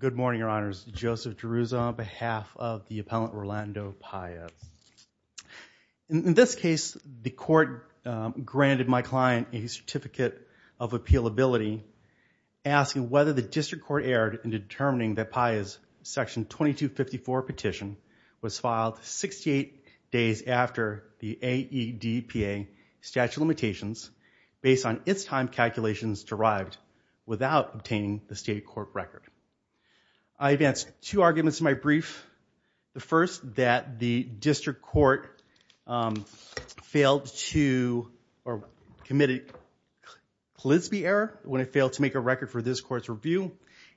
Good morning, Your Honors. Joseph DeRuza on behalf of the Appellant Rolando Paez. In this case, the court granted my client a certificate of appealability asking whether the district court erred in determining that Paez's Section 2254 petition was filed 68 days after the AEDPA statute of limitations based on its time calculations derived without obtaining the state court record. I advance two arguments in my brief. The first, that the district court failed to or committed polisby error when it failed to make a record for this court's review.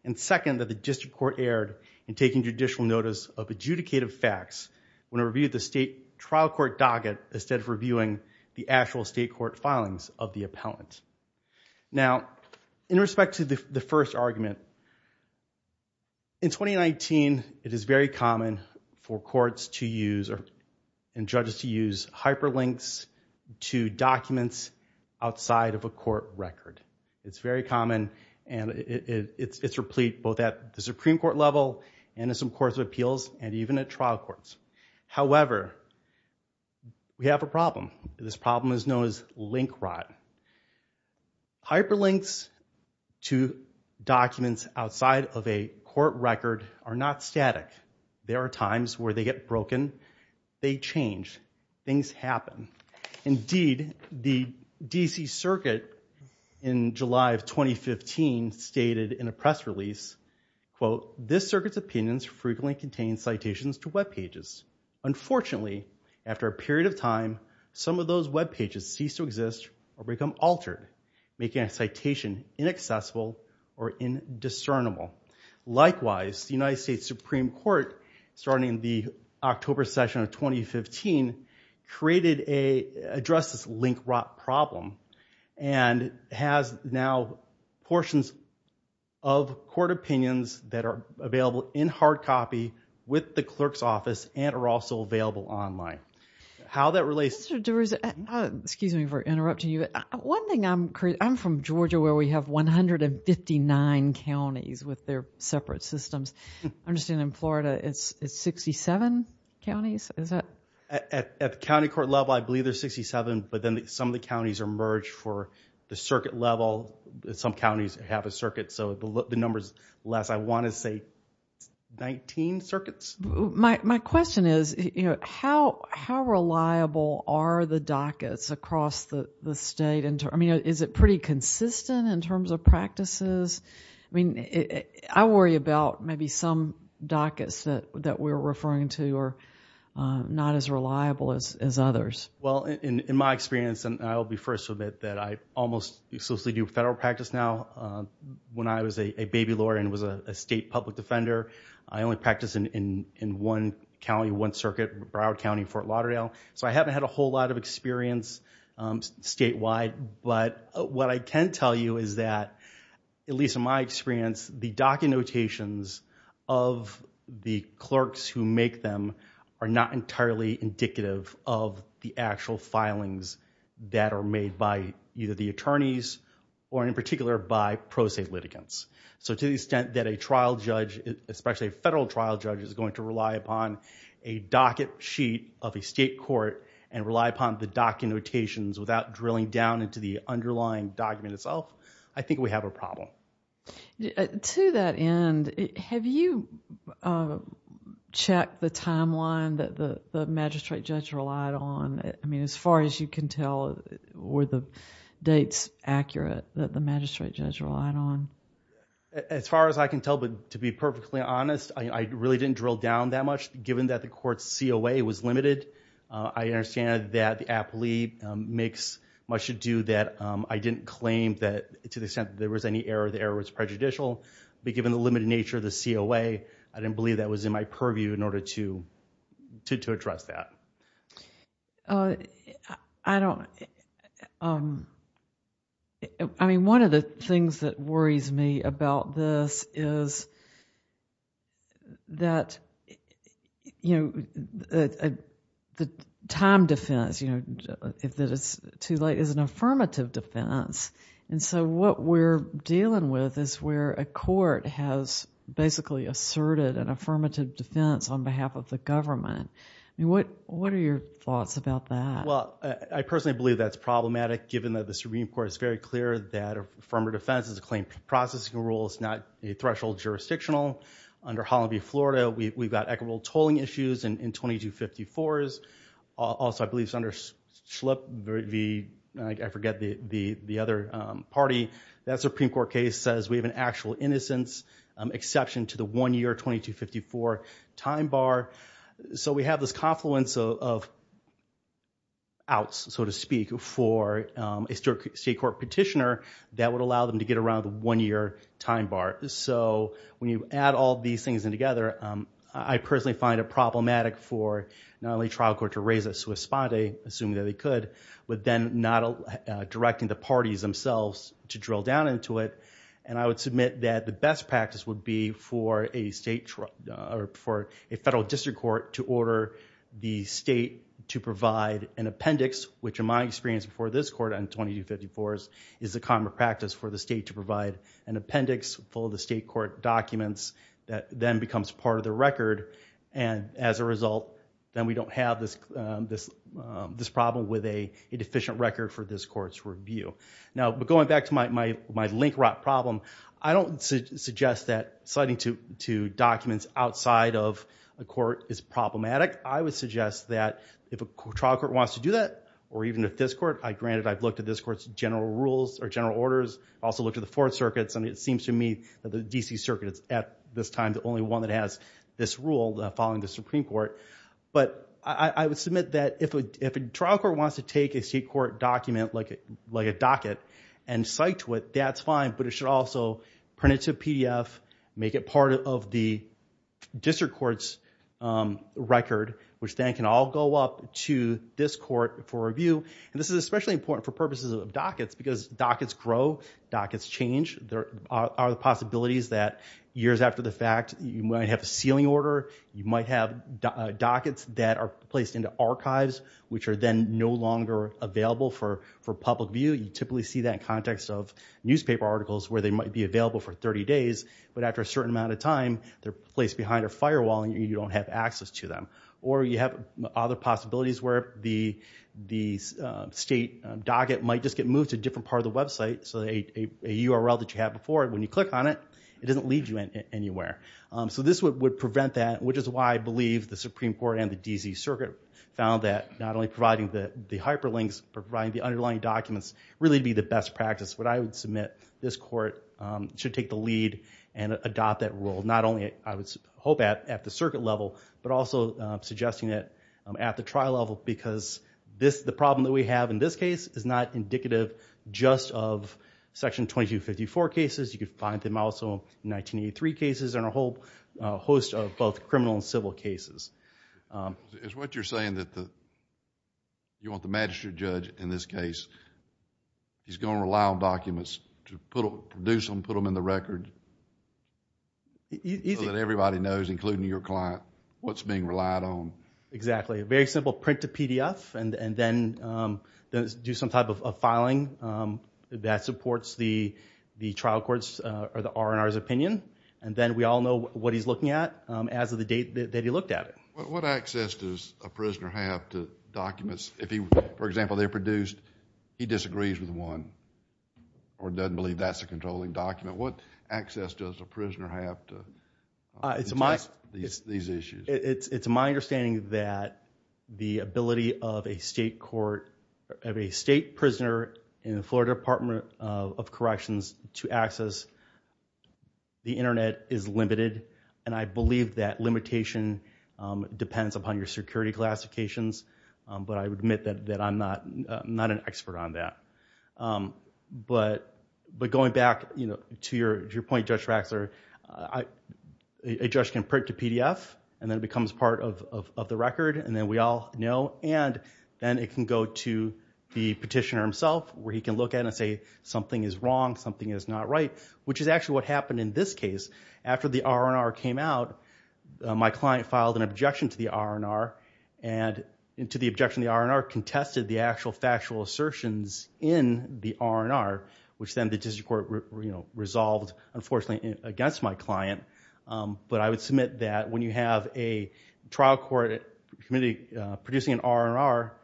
And second, that the district court erred in taking judicial notice of adjudicative facts when it reviewed the state trial court docket instead of reviewing the actual state court filings of the appellant. Now, in respect to the first argument, in 2019, it is very common for courts and judges to use hyperlinks to documents outside of a court record. It's very common and it's replete both at the Supreme Court level and in some courts of appeals and even at trial courts. However, we have a problem. This problem is known as link rot. Hyperlinks to documents outside of a court record are not static. There are times where they get broken, they change, things happen. Indeed, the DC Circuit in July of 2015 stated in a press release, quote, this circuit's opinions frequently contain citations to webpages. Unfortunately, after a period of time, some of those webpages cease to exist or become altered, making a citation inaccessible or indiscernible. Likewise, the United States Supreme Court, starting the October session of 2015, addressed this link rot problem and has now portions of court opinions that are available in hard copy with the clerk's office and are also available online. How that relates to... Excuse me for interrupting you. One thing I'm curious, I'm from Georgia where we have 159 counties with their separate systems. I understand in Florida it's 67 counties? At the county court level, I believe there's 67, but then some of the counties are merged for the circuit level. Some counties have a circuit, so the number's less. I want to say 19 circuits? My question is, how reliable are the dockets across the state? I mean, is it pretty consistent in terms of practices? I worry about maybe some dockets that we're referring to are not as reliable as others. Well, in my experience, and I'll be first to admit that I almost exclusively do federal practice now. When I was a baby lawyer and was a state public defender, I only practiced in one county, one circuit, Broward County, Fort Lauderdale, so I haven't had a whole lot of experience statewide. But what I can tell you is that, at least in my experience, the docket notations of the clerks who make them are not entirely indicative of the actual filings that are made by either the attorneys or, in particular, by pro se litigants. So to the extent that a trial judge, especially a federal trial judge, is going to rely upon a docket sheet of a state court and rely upon the docket notations without drilling down into the underlying document itself, I think we have a problem. To that end, have you checked the timeline that the magistrate judge relied on? I mean, as far as you can tell, were the dates accurate that the magistrate judge relied on? As far as I can tell, but to be perfectly honest, I really didn't drill down that much. Given that the court's COA was limited, I understand that the appellee makes much ado that I didn't claim that to the extent that there was any error, the error was prejudicial. But given the limited nature of the COA, I didn't believe that was in my purview in order to address that. I don't... I mean, one of the things that worries me about this is that the time defense, if it is too late, is an affirmative defense. And so what we're dealing with is where a court has basically asserted an affirmative defense on behalf of the government. What are your thoughts about that? Well, I personally believe that's problematic given that the Supreme Court is very clear that affirmative defense is a claim processing rule. It's not a threshold jurisdictional. Under Holland v. Florida, we've got equitable tolling issues in 2254s. Also, I believe it's under Schlupp v... I forget the other party. That Supreme Court case says we have an actual innocence exception to the one-year 2254 time bar. So we have this confluence of outs, so to speak, for a state court petitioner that would allow them to get around the one-year time bar. So when you add all these things in together, I personally find it problematic for not only trial court to raise a sua sponte, assuming that they could, but then not directing the parties themselves to drill down into it. And I would submit that the best practice would be for a federal district court to order the state to provide an appendix, which in my experience before this court on 2254s is the common practice for the state to provide an appendix full of the state court documents that then becomes part of the record. And as a result, then we don't have this problem with a deficient record for this court's review. Now, going back to my link rot problem, I don't suggest that citing two documents outside of a court is problematic. I would suggest that if a trial court wants to do that, or even if this court, granted I've looked at this court's general rules or general orders, also looked at the Fourth Circuit, and it seems to me that the D.C. Circuit is at this time the only one that has this rule following the Supreme Court. But I would submit that if a trial court wants to take a state court document like a docket and cite to it, that's fine, but it should also print it to a PDF, make it part of the district court's record, which then can all go up to this court for review. And this is especially important for purposes of dockets because dockets grow, dockets change. There are possibilities that years after the fact you might have a sealing order, you might have dockets that are placed into archives, which are then no longer available for public view. You typically see that in context of newspaper articles where they might be available for 30 days, but after a certain amount of time they're placed behind a firewall and you don't have access to them. Or you have other possibilities where the state docket might just get moved to a different part of the website so a URL that you have before it, when you click on it, it doesn't lead you anywhere. So this would prevent that, which is why I believe the Supreme Court and the D.C. Circuit found that not only providing the hyperlinks, providing the underlying documents really be the best practice, but I would submit this court should take the lead and adopt that rule. Not only, I would hope, at the circuit level, but also suggesting it at the trial level because the problem that we have in this case is not indicative just of Section 2254 cases. You can find them also in 1983 cases and a whole host of both criminal and civil cases. It's what you're saying that you want the magistrate judge in this case, he's going to rely on documents to produce them, put them in the record so that everybody knows, including your client, what's being relied on. Exactly. A very simple print to PDF and then do some type of filing that supports the trial court's or the R&R's opinion. Then we all know what he's looking at as of the date that he looked at it. What access does a prisoner have to documents? For example, they're produced, he disagrees with one or doesn't believe that's a controlling document. What access does a prisoner have to these issues? It's my understanding that the ability of a state court, of a state prisoner in the Florida Department of Corrections to access the internet is limited. I believe that limitation depends upon your security classifications. I admit that I'm not an expert on that. Going back to your point, Judge Raxler, a judge can print to PDF and then it becomes part of the record and then we all know. Then it can go to the petitioner himself where he can look at it and say something is wrong, something is not right, which is actually what happened in this case. After the R&R came out, my client filed an objection to the R&R and to the objection of the R&R contested the actual factual assertions in the R&R, which then the district court resolved, unfortunately, against my client. I would submit that when you have a trial court producing an R&R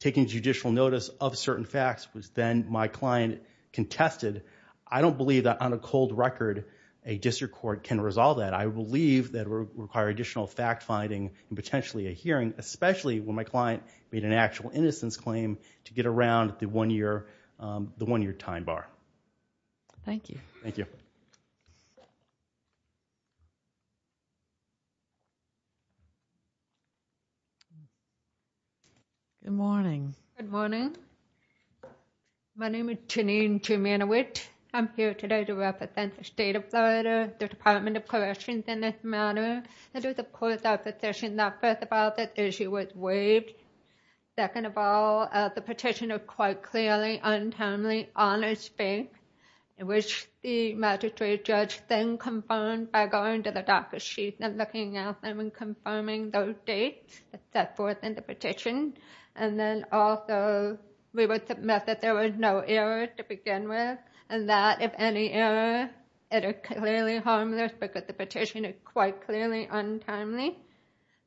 taking judicial notice of certain facts, which then my client contested, I don't believe that on a cold record a district court can resolve that. I believe that it would require additional fact-finding and potentially a hearing, especially when my client made an actual innocence claim to get around the one-year time bar. Thank you. Good morning. My name is Janine Jimeniewicz. I'm here today to represent the state of Florida, the Department of Corrections in this matter. It is, of course, our position that, first of all, this issue was waived. Second of all, the petition is quite clearly, untimely, on its face, which the magistrate judge then confirmed by going to the docket sheet and looking at them and confirming those dates set forth in the petition. Also, we would submit that there were no errors to begin with and that, if any error, it is clearly harmless because the petition is quite clearly untimely.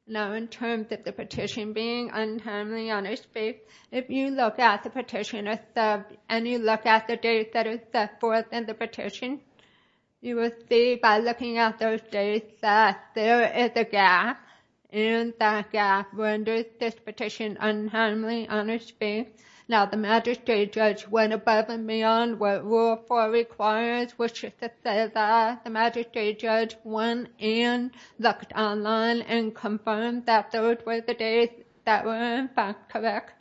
Now, in terms of the petition being untimely on its face, if you look at the petition itself and you look at the dates that are set forth in the petition, you will see by looking at those dates that there is a gap and that gap renders this petition untimely on its face. Now, the magistrate judge went above and beyond what Rule 4 requires, which is to say that the magistrate judge went and looked online and confirmed that those were the dates that were, in fact, correct.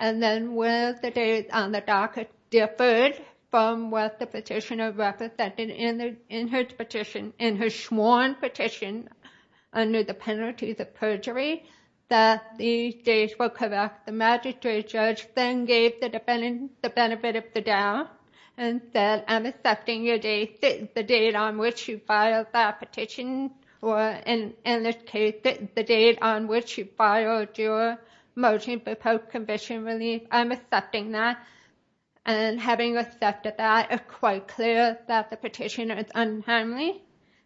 Then, with the dates on the docket differed from what the petitioner represented in his sworn petition under the penalties of perjury, that these dates were correct. The magistrate judge then gave the defendant the benefit of the doubt and said, I'm accepting the date on which you filed that petition or, in this case, the date on which you filed your motion for post-conviction relief. I'm accepting that. Having accepted that, it's quite clear that the petitioner is untimely.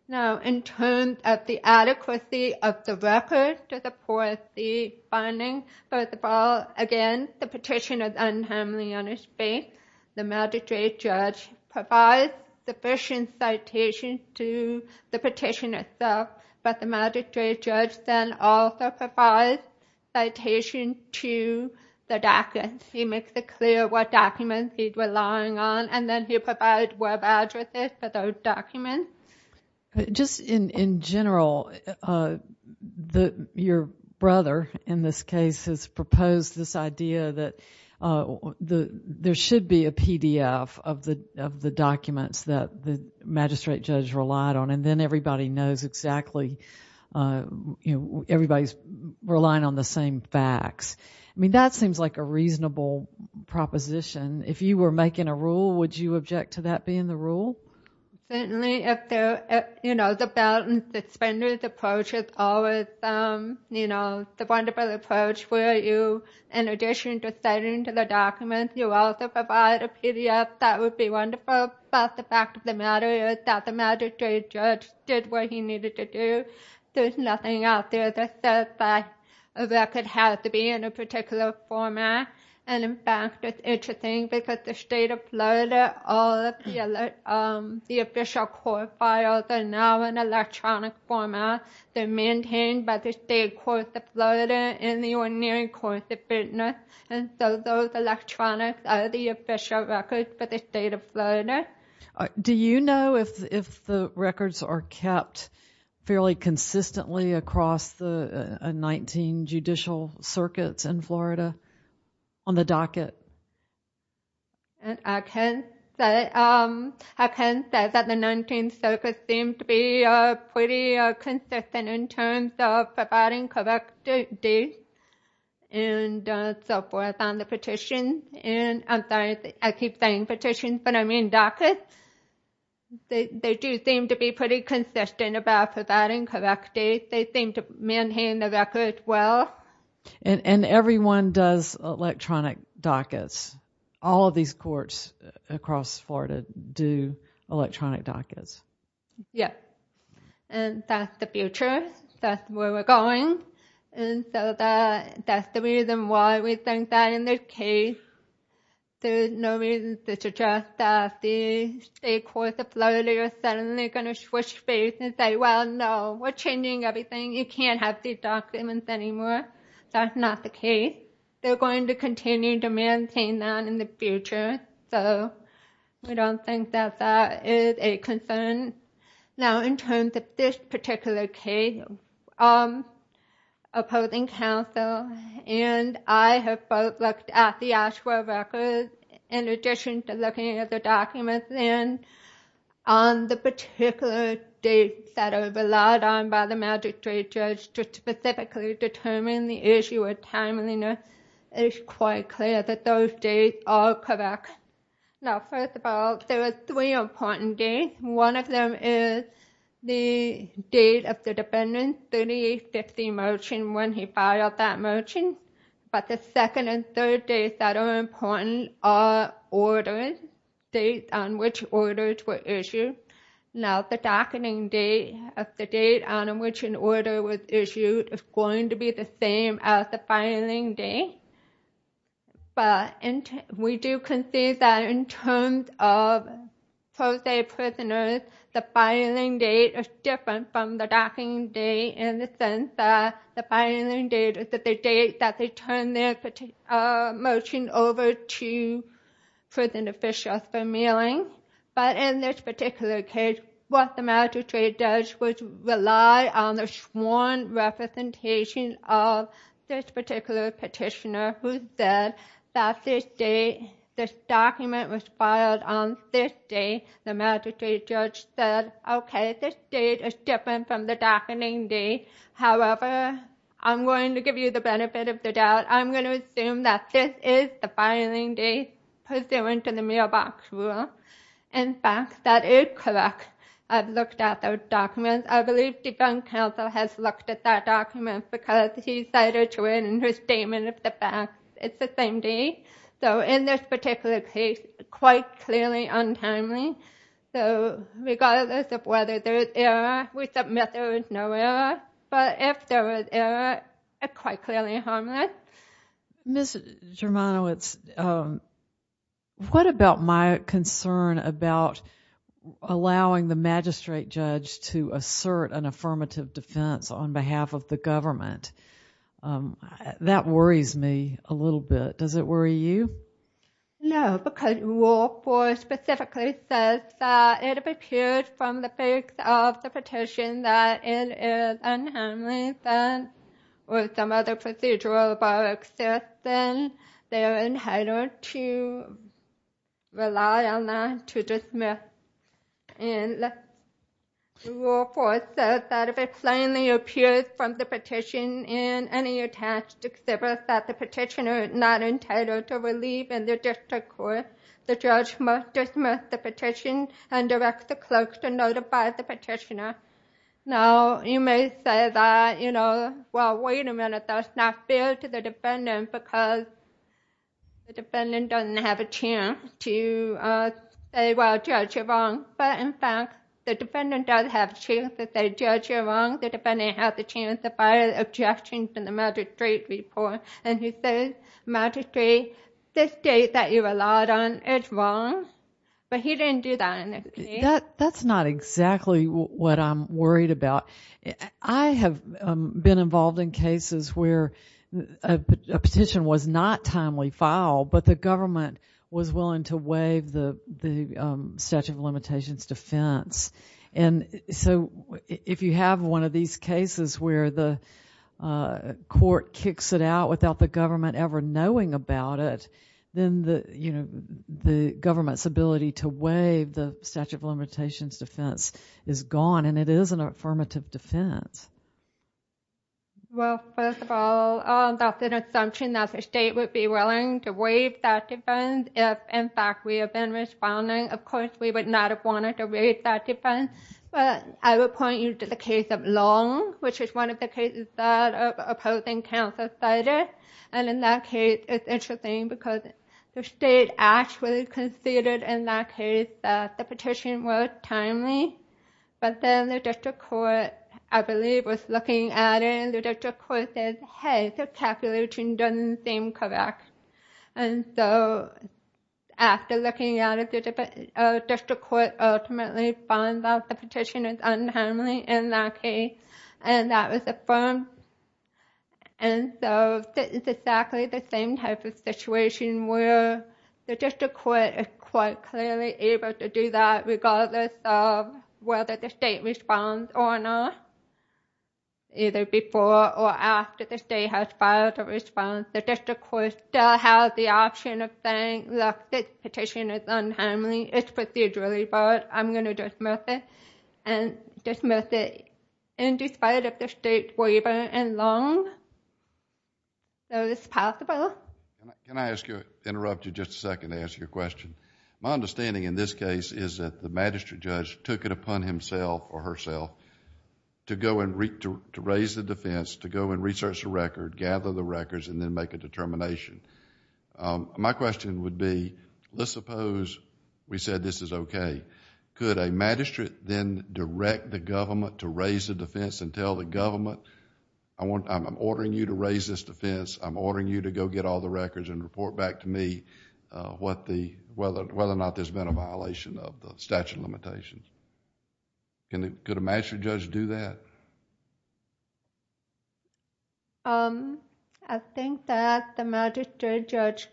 Now, in terms of the adequacy of the record to support the finding, first of all, again, the petition is untimely on its face. The magistrate judge provides sufficient citations to the petition itself, but the magistrate judge then also provides citations to the documents. He makes it clear what documents he's relying on and then he provides web addresses for those documents. Just in general, your brother, in this case, has proposed this idea that there should be a PDF of the documents that the magistrate judge relied on and then everybody knows exactly, everybody's relying on the same facts. I mean, that seems like a reasonable proposition. being the rule? Certainly. The belt and suspenders approach is always the wonderful approach where you, in addition to citing to the documents, you also provide a PDF. That would be wonderful, but the fact of the matter is that the magistrate judge did what he needed to do. There's nothing out there that says that a record has to be in a particular format. In fact, it's interesting because the state of Florida, all of the official court files are now in electronic format. They're maintained by the state courts of Florida and the ordinary courts of business. Those electronics are the official records for the state of Florida. Do you know if the records are kept fairly consistently across the 19 judicial circuits in Florida on the docket? I can say that the 19 circuits seem to be pretty consistent in terms of providing correct dates and so forth on the petitions. I'm sorry, I keep saying petitions, but I mean dockets. They do seem to be pretty consistent about providing correct dates. They seem to maintain the records well. And everyone does electronic dockets. All of these courts across Florida do electronic dockets. Yes, and that's the future. That's where we're going. That's the reason why we think that in this case there's no reason to suggest that the state courts of Florida are suddenly going to you can't have these documents anymore. That's not the case. They're going to continue to maintain that in the future. We don't think that that is a concern. Now in terms of this particular case, opposing counsel and I have both looked at the Oshawa records in addition to looking at the documents and on the particular dates that are relied on by the magistrate judge to specifically determine the issue of timeliness it's quite clear that those dates are correct. Now first of all, there are three important dates. One of them is the date of the defendant's 3850 motion when he filed that motion. But the second and third dates that are important are orders, dates on which orders were issued. Now the docketing date of the date on which an order was issued is going to be the same as the filing date. But we do concede that in terms of pro se prisoners the filing date is different from the docketing date in the sense that the filing date is the date that they turn their motion over to prison officials for mailing. But in this particular case, what the magistrate judge would rely on is the sworn representation of this particular petitioner who said that this date this document was filed on this date the magistrate judge said okay, this date is different from the docketing date however, I'm going to give you the benefit of the doubt I'm going to assume that this is the filing date pursuant to the mailbox rule in fact, that is correct I've looked at those documents I believe defense counsel has looked at those documents because he cited to it in his statement it's the same date so in this particular case, it's quite clearly untimely so regardless of whether there is error we submit there is no error but if there is error, it's quite clearly harmless Ms. Germano, what about my concern about allowing the magistrate judge to assert an affirmative defense on behalf of the government that worries me a little bit does it worry you? No, because rule 4 specifically says that if it appears from the face of the petition that it is an unharmless offense or some other procedural bar exists then they are entitled to rely on that to dismiss and rule 4 says that if it plainly appears from the petition in any attached exhibit that the petitioner is not entitled to relieve in the district court the judge must dismiss the petition and direct the clerk to notify the petitioner now, you may say well, wait a minute, that's not fair to the defendant because the defendant doesn't have a chance to say, well, judge, you're wrong but in fact, the defendant does have a chance to say, judge, you're wrong, the defendant has a chance to file an objection to the magistrate's report and he says, magistrate, this state that you relied on is wrong but he didn't do that in this case That's not exactly what I'm worried about I have been involved in cases where a petition was not timely filed but the government was willing to waive the statute of limitations defense so if you have one of these cases where the court kicks it out without the government ever knowing about it then the government's ability to waive the statute of limitations defense is gone and it is an affirmative defense Well, first of all, that's an assumption that the state would be willing to waive that defense if, in fact, we have been responding Of course, we would not have wanted to waive that defense I would point you to the case of Long which is one of the cases of opposing counsel Cider and in that case, it's interesting because the state actually conceded in that case that the petition was timely but then the district court, I believe was looking at it and the district court said hey, this calculation doesn't seem correct and so after looking at it the district court ultimately finds out the petition is untimely in that case and that was affirmed and so it's exactly the same type of situation where the district court is quite clearly able to do that regardless of whether the state responds or not either before or after the state has filed a response, the district court still has the option of saying, look, this petition is untimely it's procedurally filed, I'm going to dismiss it and dismiss it in spite of the state's waiver in Long so it's possible Can I interrupt you just a second to ask you a question? My understanding in this case is that the magistrate judge took it upon himself or herself to raise the defense, to go and research the record gather the records and then make a determination My question would be, let's suppose we said this is okay, could a magistrate then direct the government to raise the defense and tell the government, I'm ordering you to raise this defense, I'm ordering you to go get all the records and report back to me whether or not there's been a violation of the statute of limitations Could a magistrate judge do that? I think that the magistrate judge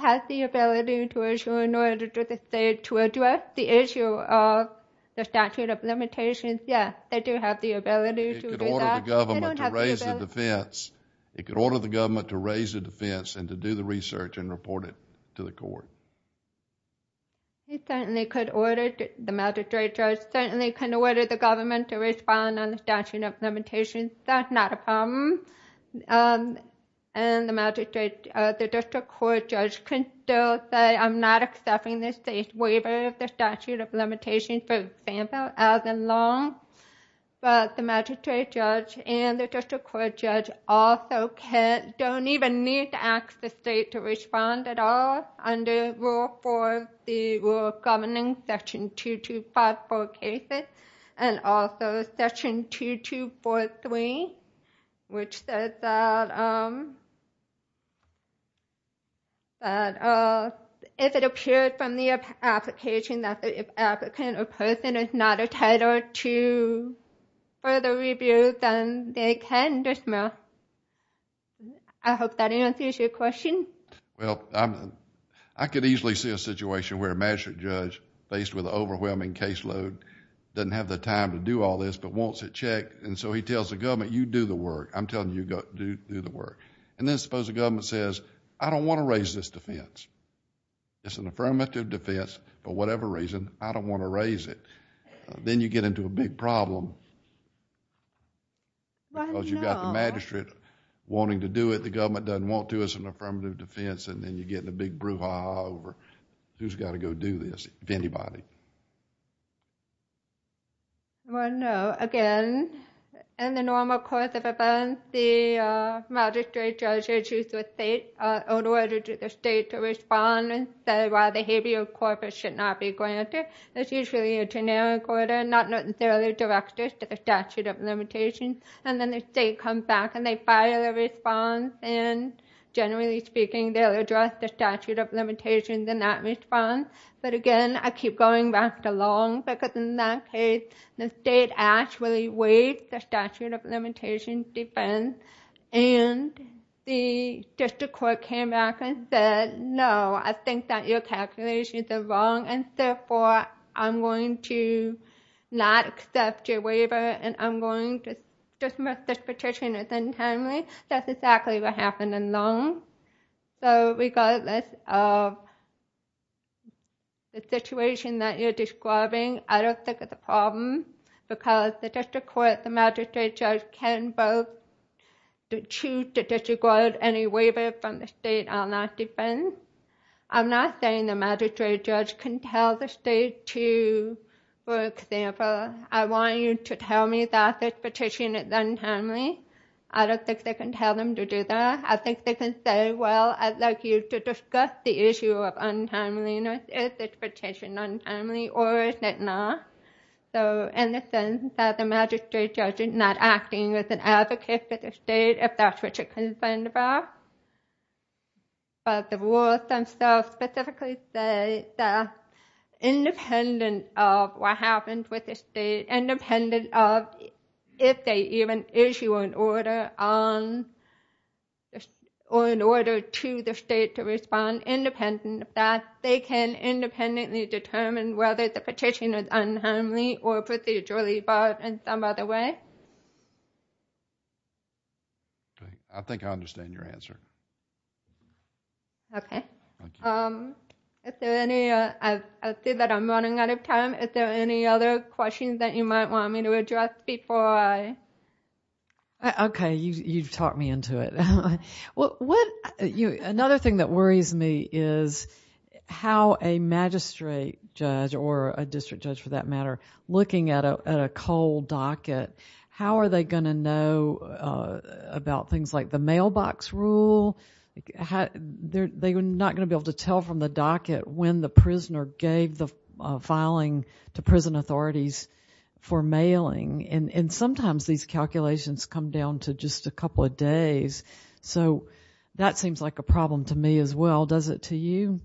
has the ability to issue an order to the state to address the issue of the statute of limitations, yes, they do have the ability It could order the government to raise the defense It could order the government to raise the defense and to do the research and report it to the court The magistrate judge certainly can order the government to respond on the statute of limitations That's not a problem The district court judge can still say I'm not accepting the state's waiver of the statute of limitations for example as in Long, but the magistrate judge and the district court judge also don't even need to ask the state to respond at all under Rule 4, the Rule of Governing Section 2254 cases and also Section 2243 which says that if it appears from the application that the applicant or person is not entitled to further review then they can dismiss I hope that answers your question I could easily see a situation where a magistrate judge faced with an overwhelming caseload doesn't have the time to do all this but wants it checked and so he tells the government you do the work I'm telling you to do the work and then suppose the government says I don't want to raise this defense It's an affirmative defense for whatever reason I don't want to raise it Then you get into a big problem because you've got the magistrate wanting to do it and suppose the government doesn't want to, it's an affirmative defense and then you get in a big brouhaha over who's got to go do this if anybody Well no, again in the normal course of events the magistrate judge or the district state to respond and say why the habeas corpus should not be granted it's usually a generic order not necessarily directed to the statute of limitations and then the state comes back and they file a response and generally speaking they'll address the statute of limitations in that response but again I keep going back to long because in that case the state actually waived the statute of limitations defense and the district court came back and said no, I think that your calculations are wrong and therefore I'm going to not accept your waiver and I'm going to dismiss this petition as untimely that's exactly what happened in long so regardless of the situation that you're describing I don't think it's a problem because the district court, the magistrate judge can both choose to disregard any waiver from the state on that defense I'm not saying the magistrate judge can tell the state to for example, I want you to tell me that this petition is untimely I don't think they can tell them to do that I think they can say, well I'd like you to discuss the issue of untimeliness is this petition untimely or is it not in the sense that the magistrate judge is not acting as an advocate for the state if that's what you're concerned about but the rules themselves specifically say that it's independent of what happens with the state, independent of if they even issue an order or an order to the state to respond, independent of that they can independently determine whether the petition is untimely or procedurally barred in some other way I think I understand your answer Okay I see that I'm running out of time are there any other questions that you might want me to address before I Okay, you've talked me into it another thing that worries me is how a magistrate judge or a district judge for that matter looking at a cold docket how are they going to know about things like the mailbox rule they're not going to be able to tell from the docket when the prisoner gave the filing to prison authorities for mailing and sometimes these calculations come down to just a couple of days so that seems like a problem to me as well does it to you?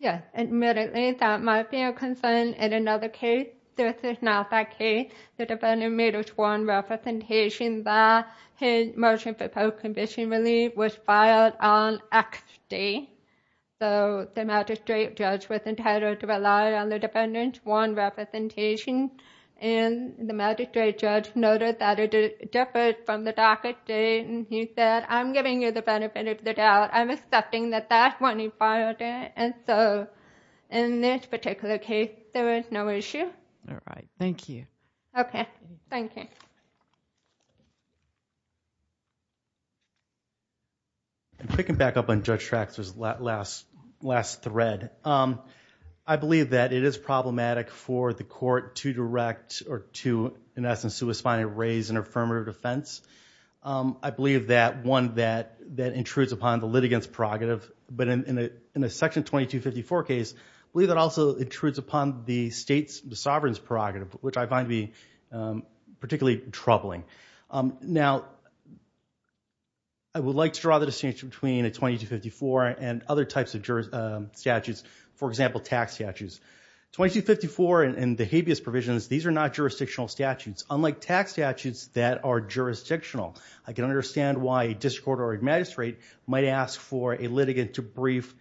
Yes, admittedly that might be a concern in another case this is not that case the defendant made a sworn representation that his motion for post-conviction relief was filed on X day so the magistrate judge was entitled to rely on the defendant's sworn representation and the magistrate judge noted that it differed from the docket date and he said I'm giving you the benefit of the doubt I'm accepting that that's when he filed it and so in this particular case there was no issue okay, thank you I'm picking back up on Judge Traxler's last thread I believe that it is problematic for the court to direct in essence to raise an affirmative defense I believe that one that intrudes upon the litigants prerogative but in a section 2254 case I believe that also intrudes upon the sovereign's prerogative which I find to be particularly troubling now I would like to draw the distinction between 2254 and other types of statutes for example tax statutes 2254 and the habeas provisions these are not jurisdictional statutes unlike tax statutes that are jurisdictional I can understand why a district court or a magistrate might ask for a litigant to brief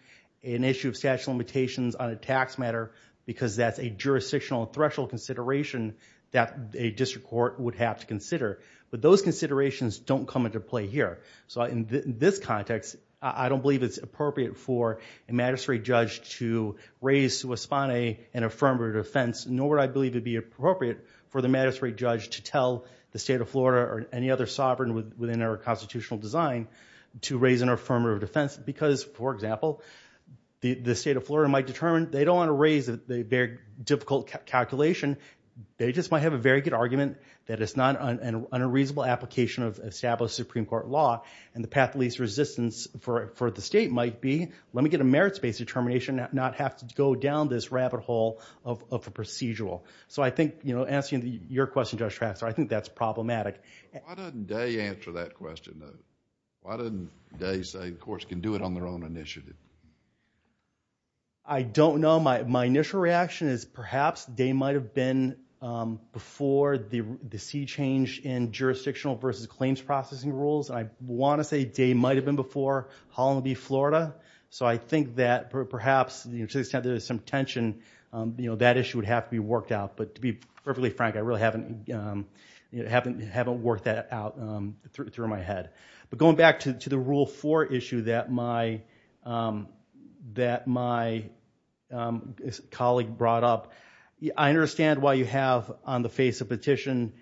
an issue of statute of limitations on a tax matter because that's a jurisdictional threshold consideration that a district court would have to consider but those considerations don't come into play here so in this context I don't believe it's appropriate for a magistrate judge to raise to respond an affirmative defense nor would I believe it would be appropriate for the magistrate judge to tell the state of Florida or any other sovereign within our constitutional design to raise an affirmative defense because for example the state of Florida might determine they don't want to raise a very difficult calculation they just might have a very good argument that it's not a reasonable application of established Supreme Court law and the path of least resistance for the state might be let me get a merits based determination and not have to go down this rabbit hole of a procedural so I think answering your question Judge Traxler I think that's problematic Why doesn't Day answer that question though? Why doesn't Day say courts can do it on their own initiative? I don't know my initial reaction is perhaps Day might have been before the sea change in jurisdictional versus claims processing rules and I want to say Day might have been before Holland v. Florida so I think that perhaps to the extent there is some tension that issue would have to be worked out but to be perfectly I don't work that out through my head but going back to the Rule 4 issue that my that my colleague brought up I understand why you have on the face of petition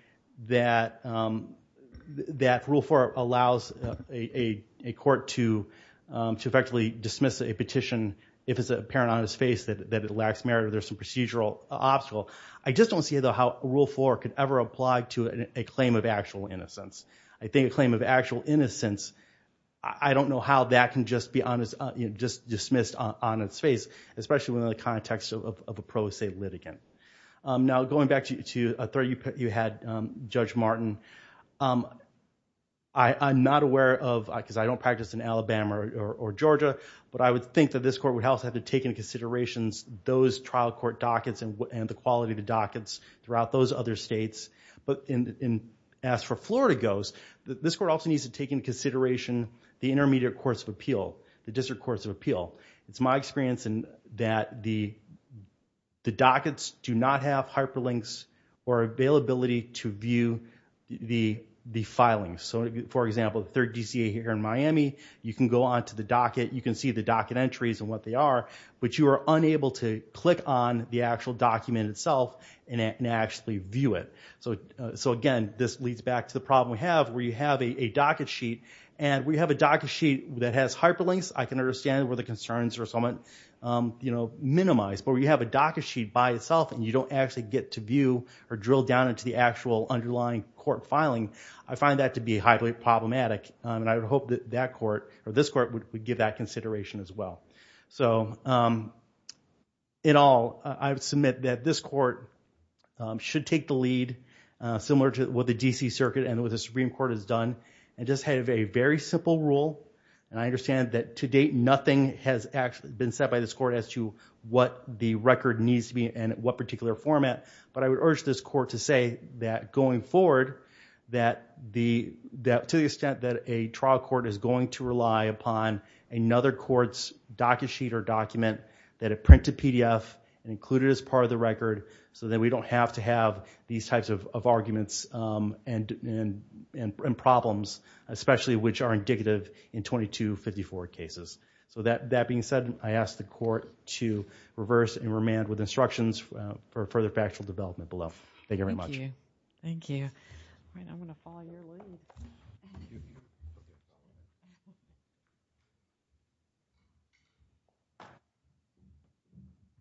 that Rule 4 allows a court to effectively dismiss a petition if it's apparent on its face that it lacks merit or there's some procedural obstacle I just don't see though how Rule 4 could ever apply to a claim of actual innocence. I think a claim of actual innocence I don't know how that can just be dismissed on its face especially in the context of a pro se litigant. Now going back to a threat you had Judge Martin I'm not aware of because I don't practice in Alabama or Georgia but I would think that this court would also have to take into consideration those throughout those other states but as for Florida goes this court also needs to take into consideration the intermediate courts of appeal, the district courts of appeal it's my experience that the the dockets do not have hyperlinks or availability to view the the filings so for example the 3rd DCA here in Miami you can go on to the docket you can see the docket entries and what they are but you are unable to click on the actual document itself and actually view it so again this leads back to the problem we have where you have a docket sheet and we have a docket sheet that has hyperlinks I can understand where the concerns are somewhat minimized but we have a docket sheet by itself and you don't actually get to view or drill down into the actual underlying court filing I find that to be highly problematic and I would hope that court or this court would give that consideration as well so in all I would submit that this court should take the lead similar to what the DC Circuit and what the Supreme Court has done and just have a very simple rule and I understand that to date nothing has actually been said by this court as to what the record needs to be and what particular format but I would urge this court to say that going forward that to the extent that a trial court is going to rely upon another court's docket sheet or document that it printed PDF and included as part of the record so that we don't have to have these types of arguments and problems especially which are indicative in 2254 cases so that being said I ask the court to reverse and remand with instructions for further factual development below. Thank you very much. Thank you. Thank you.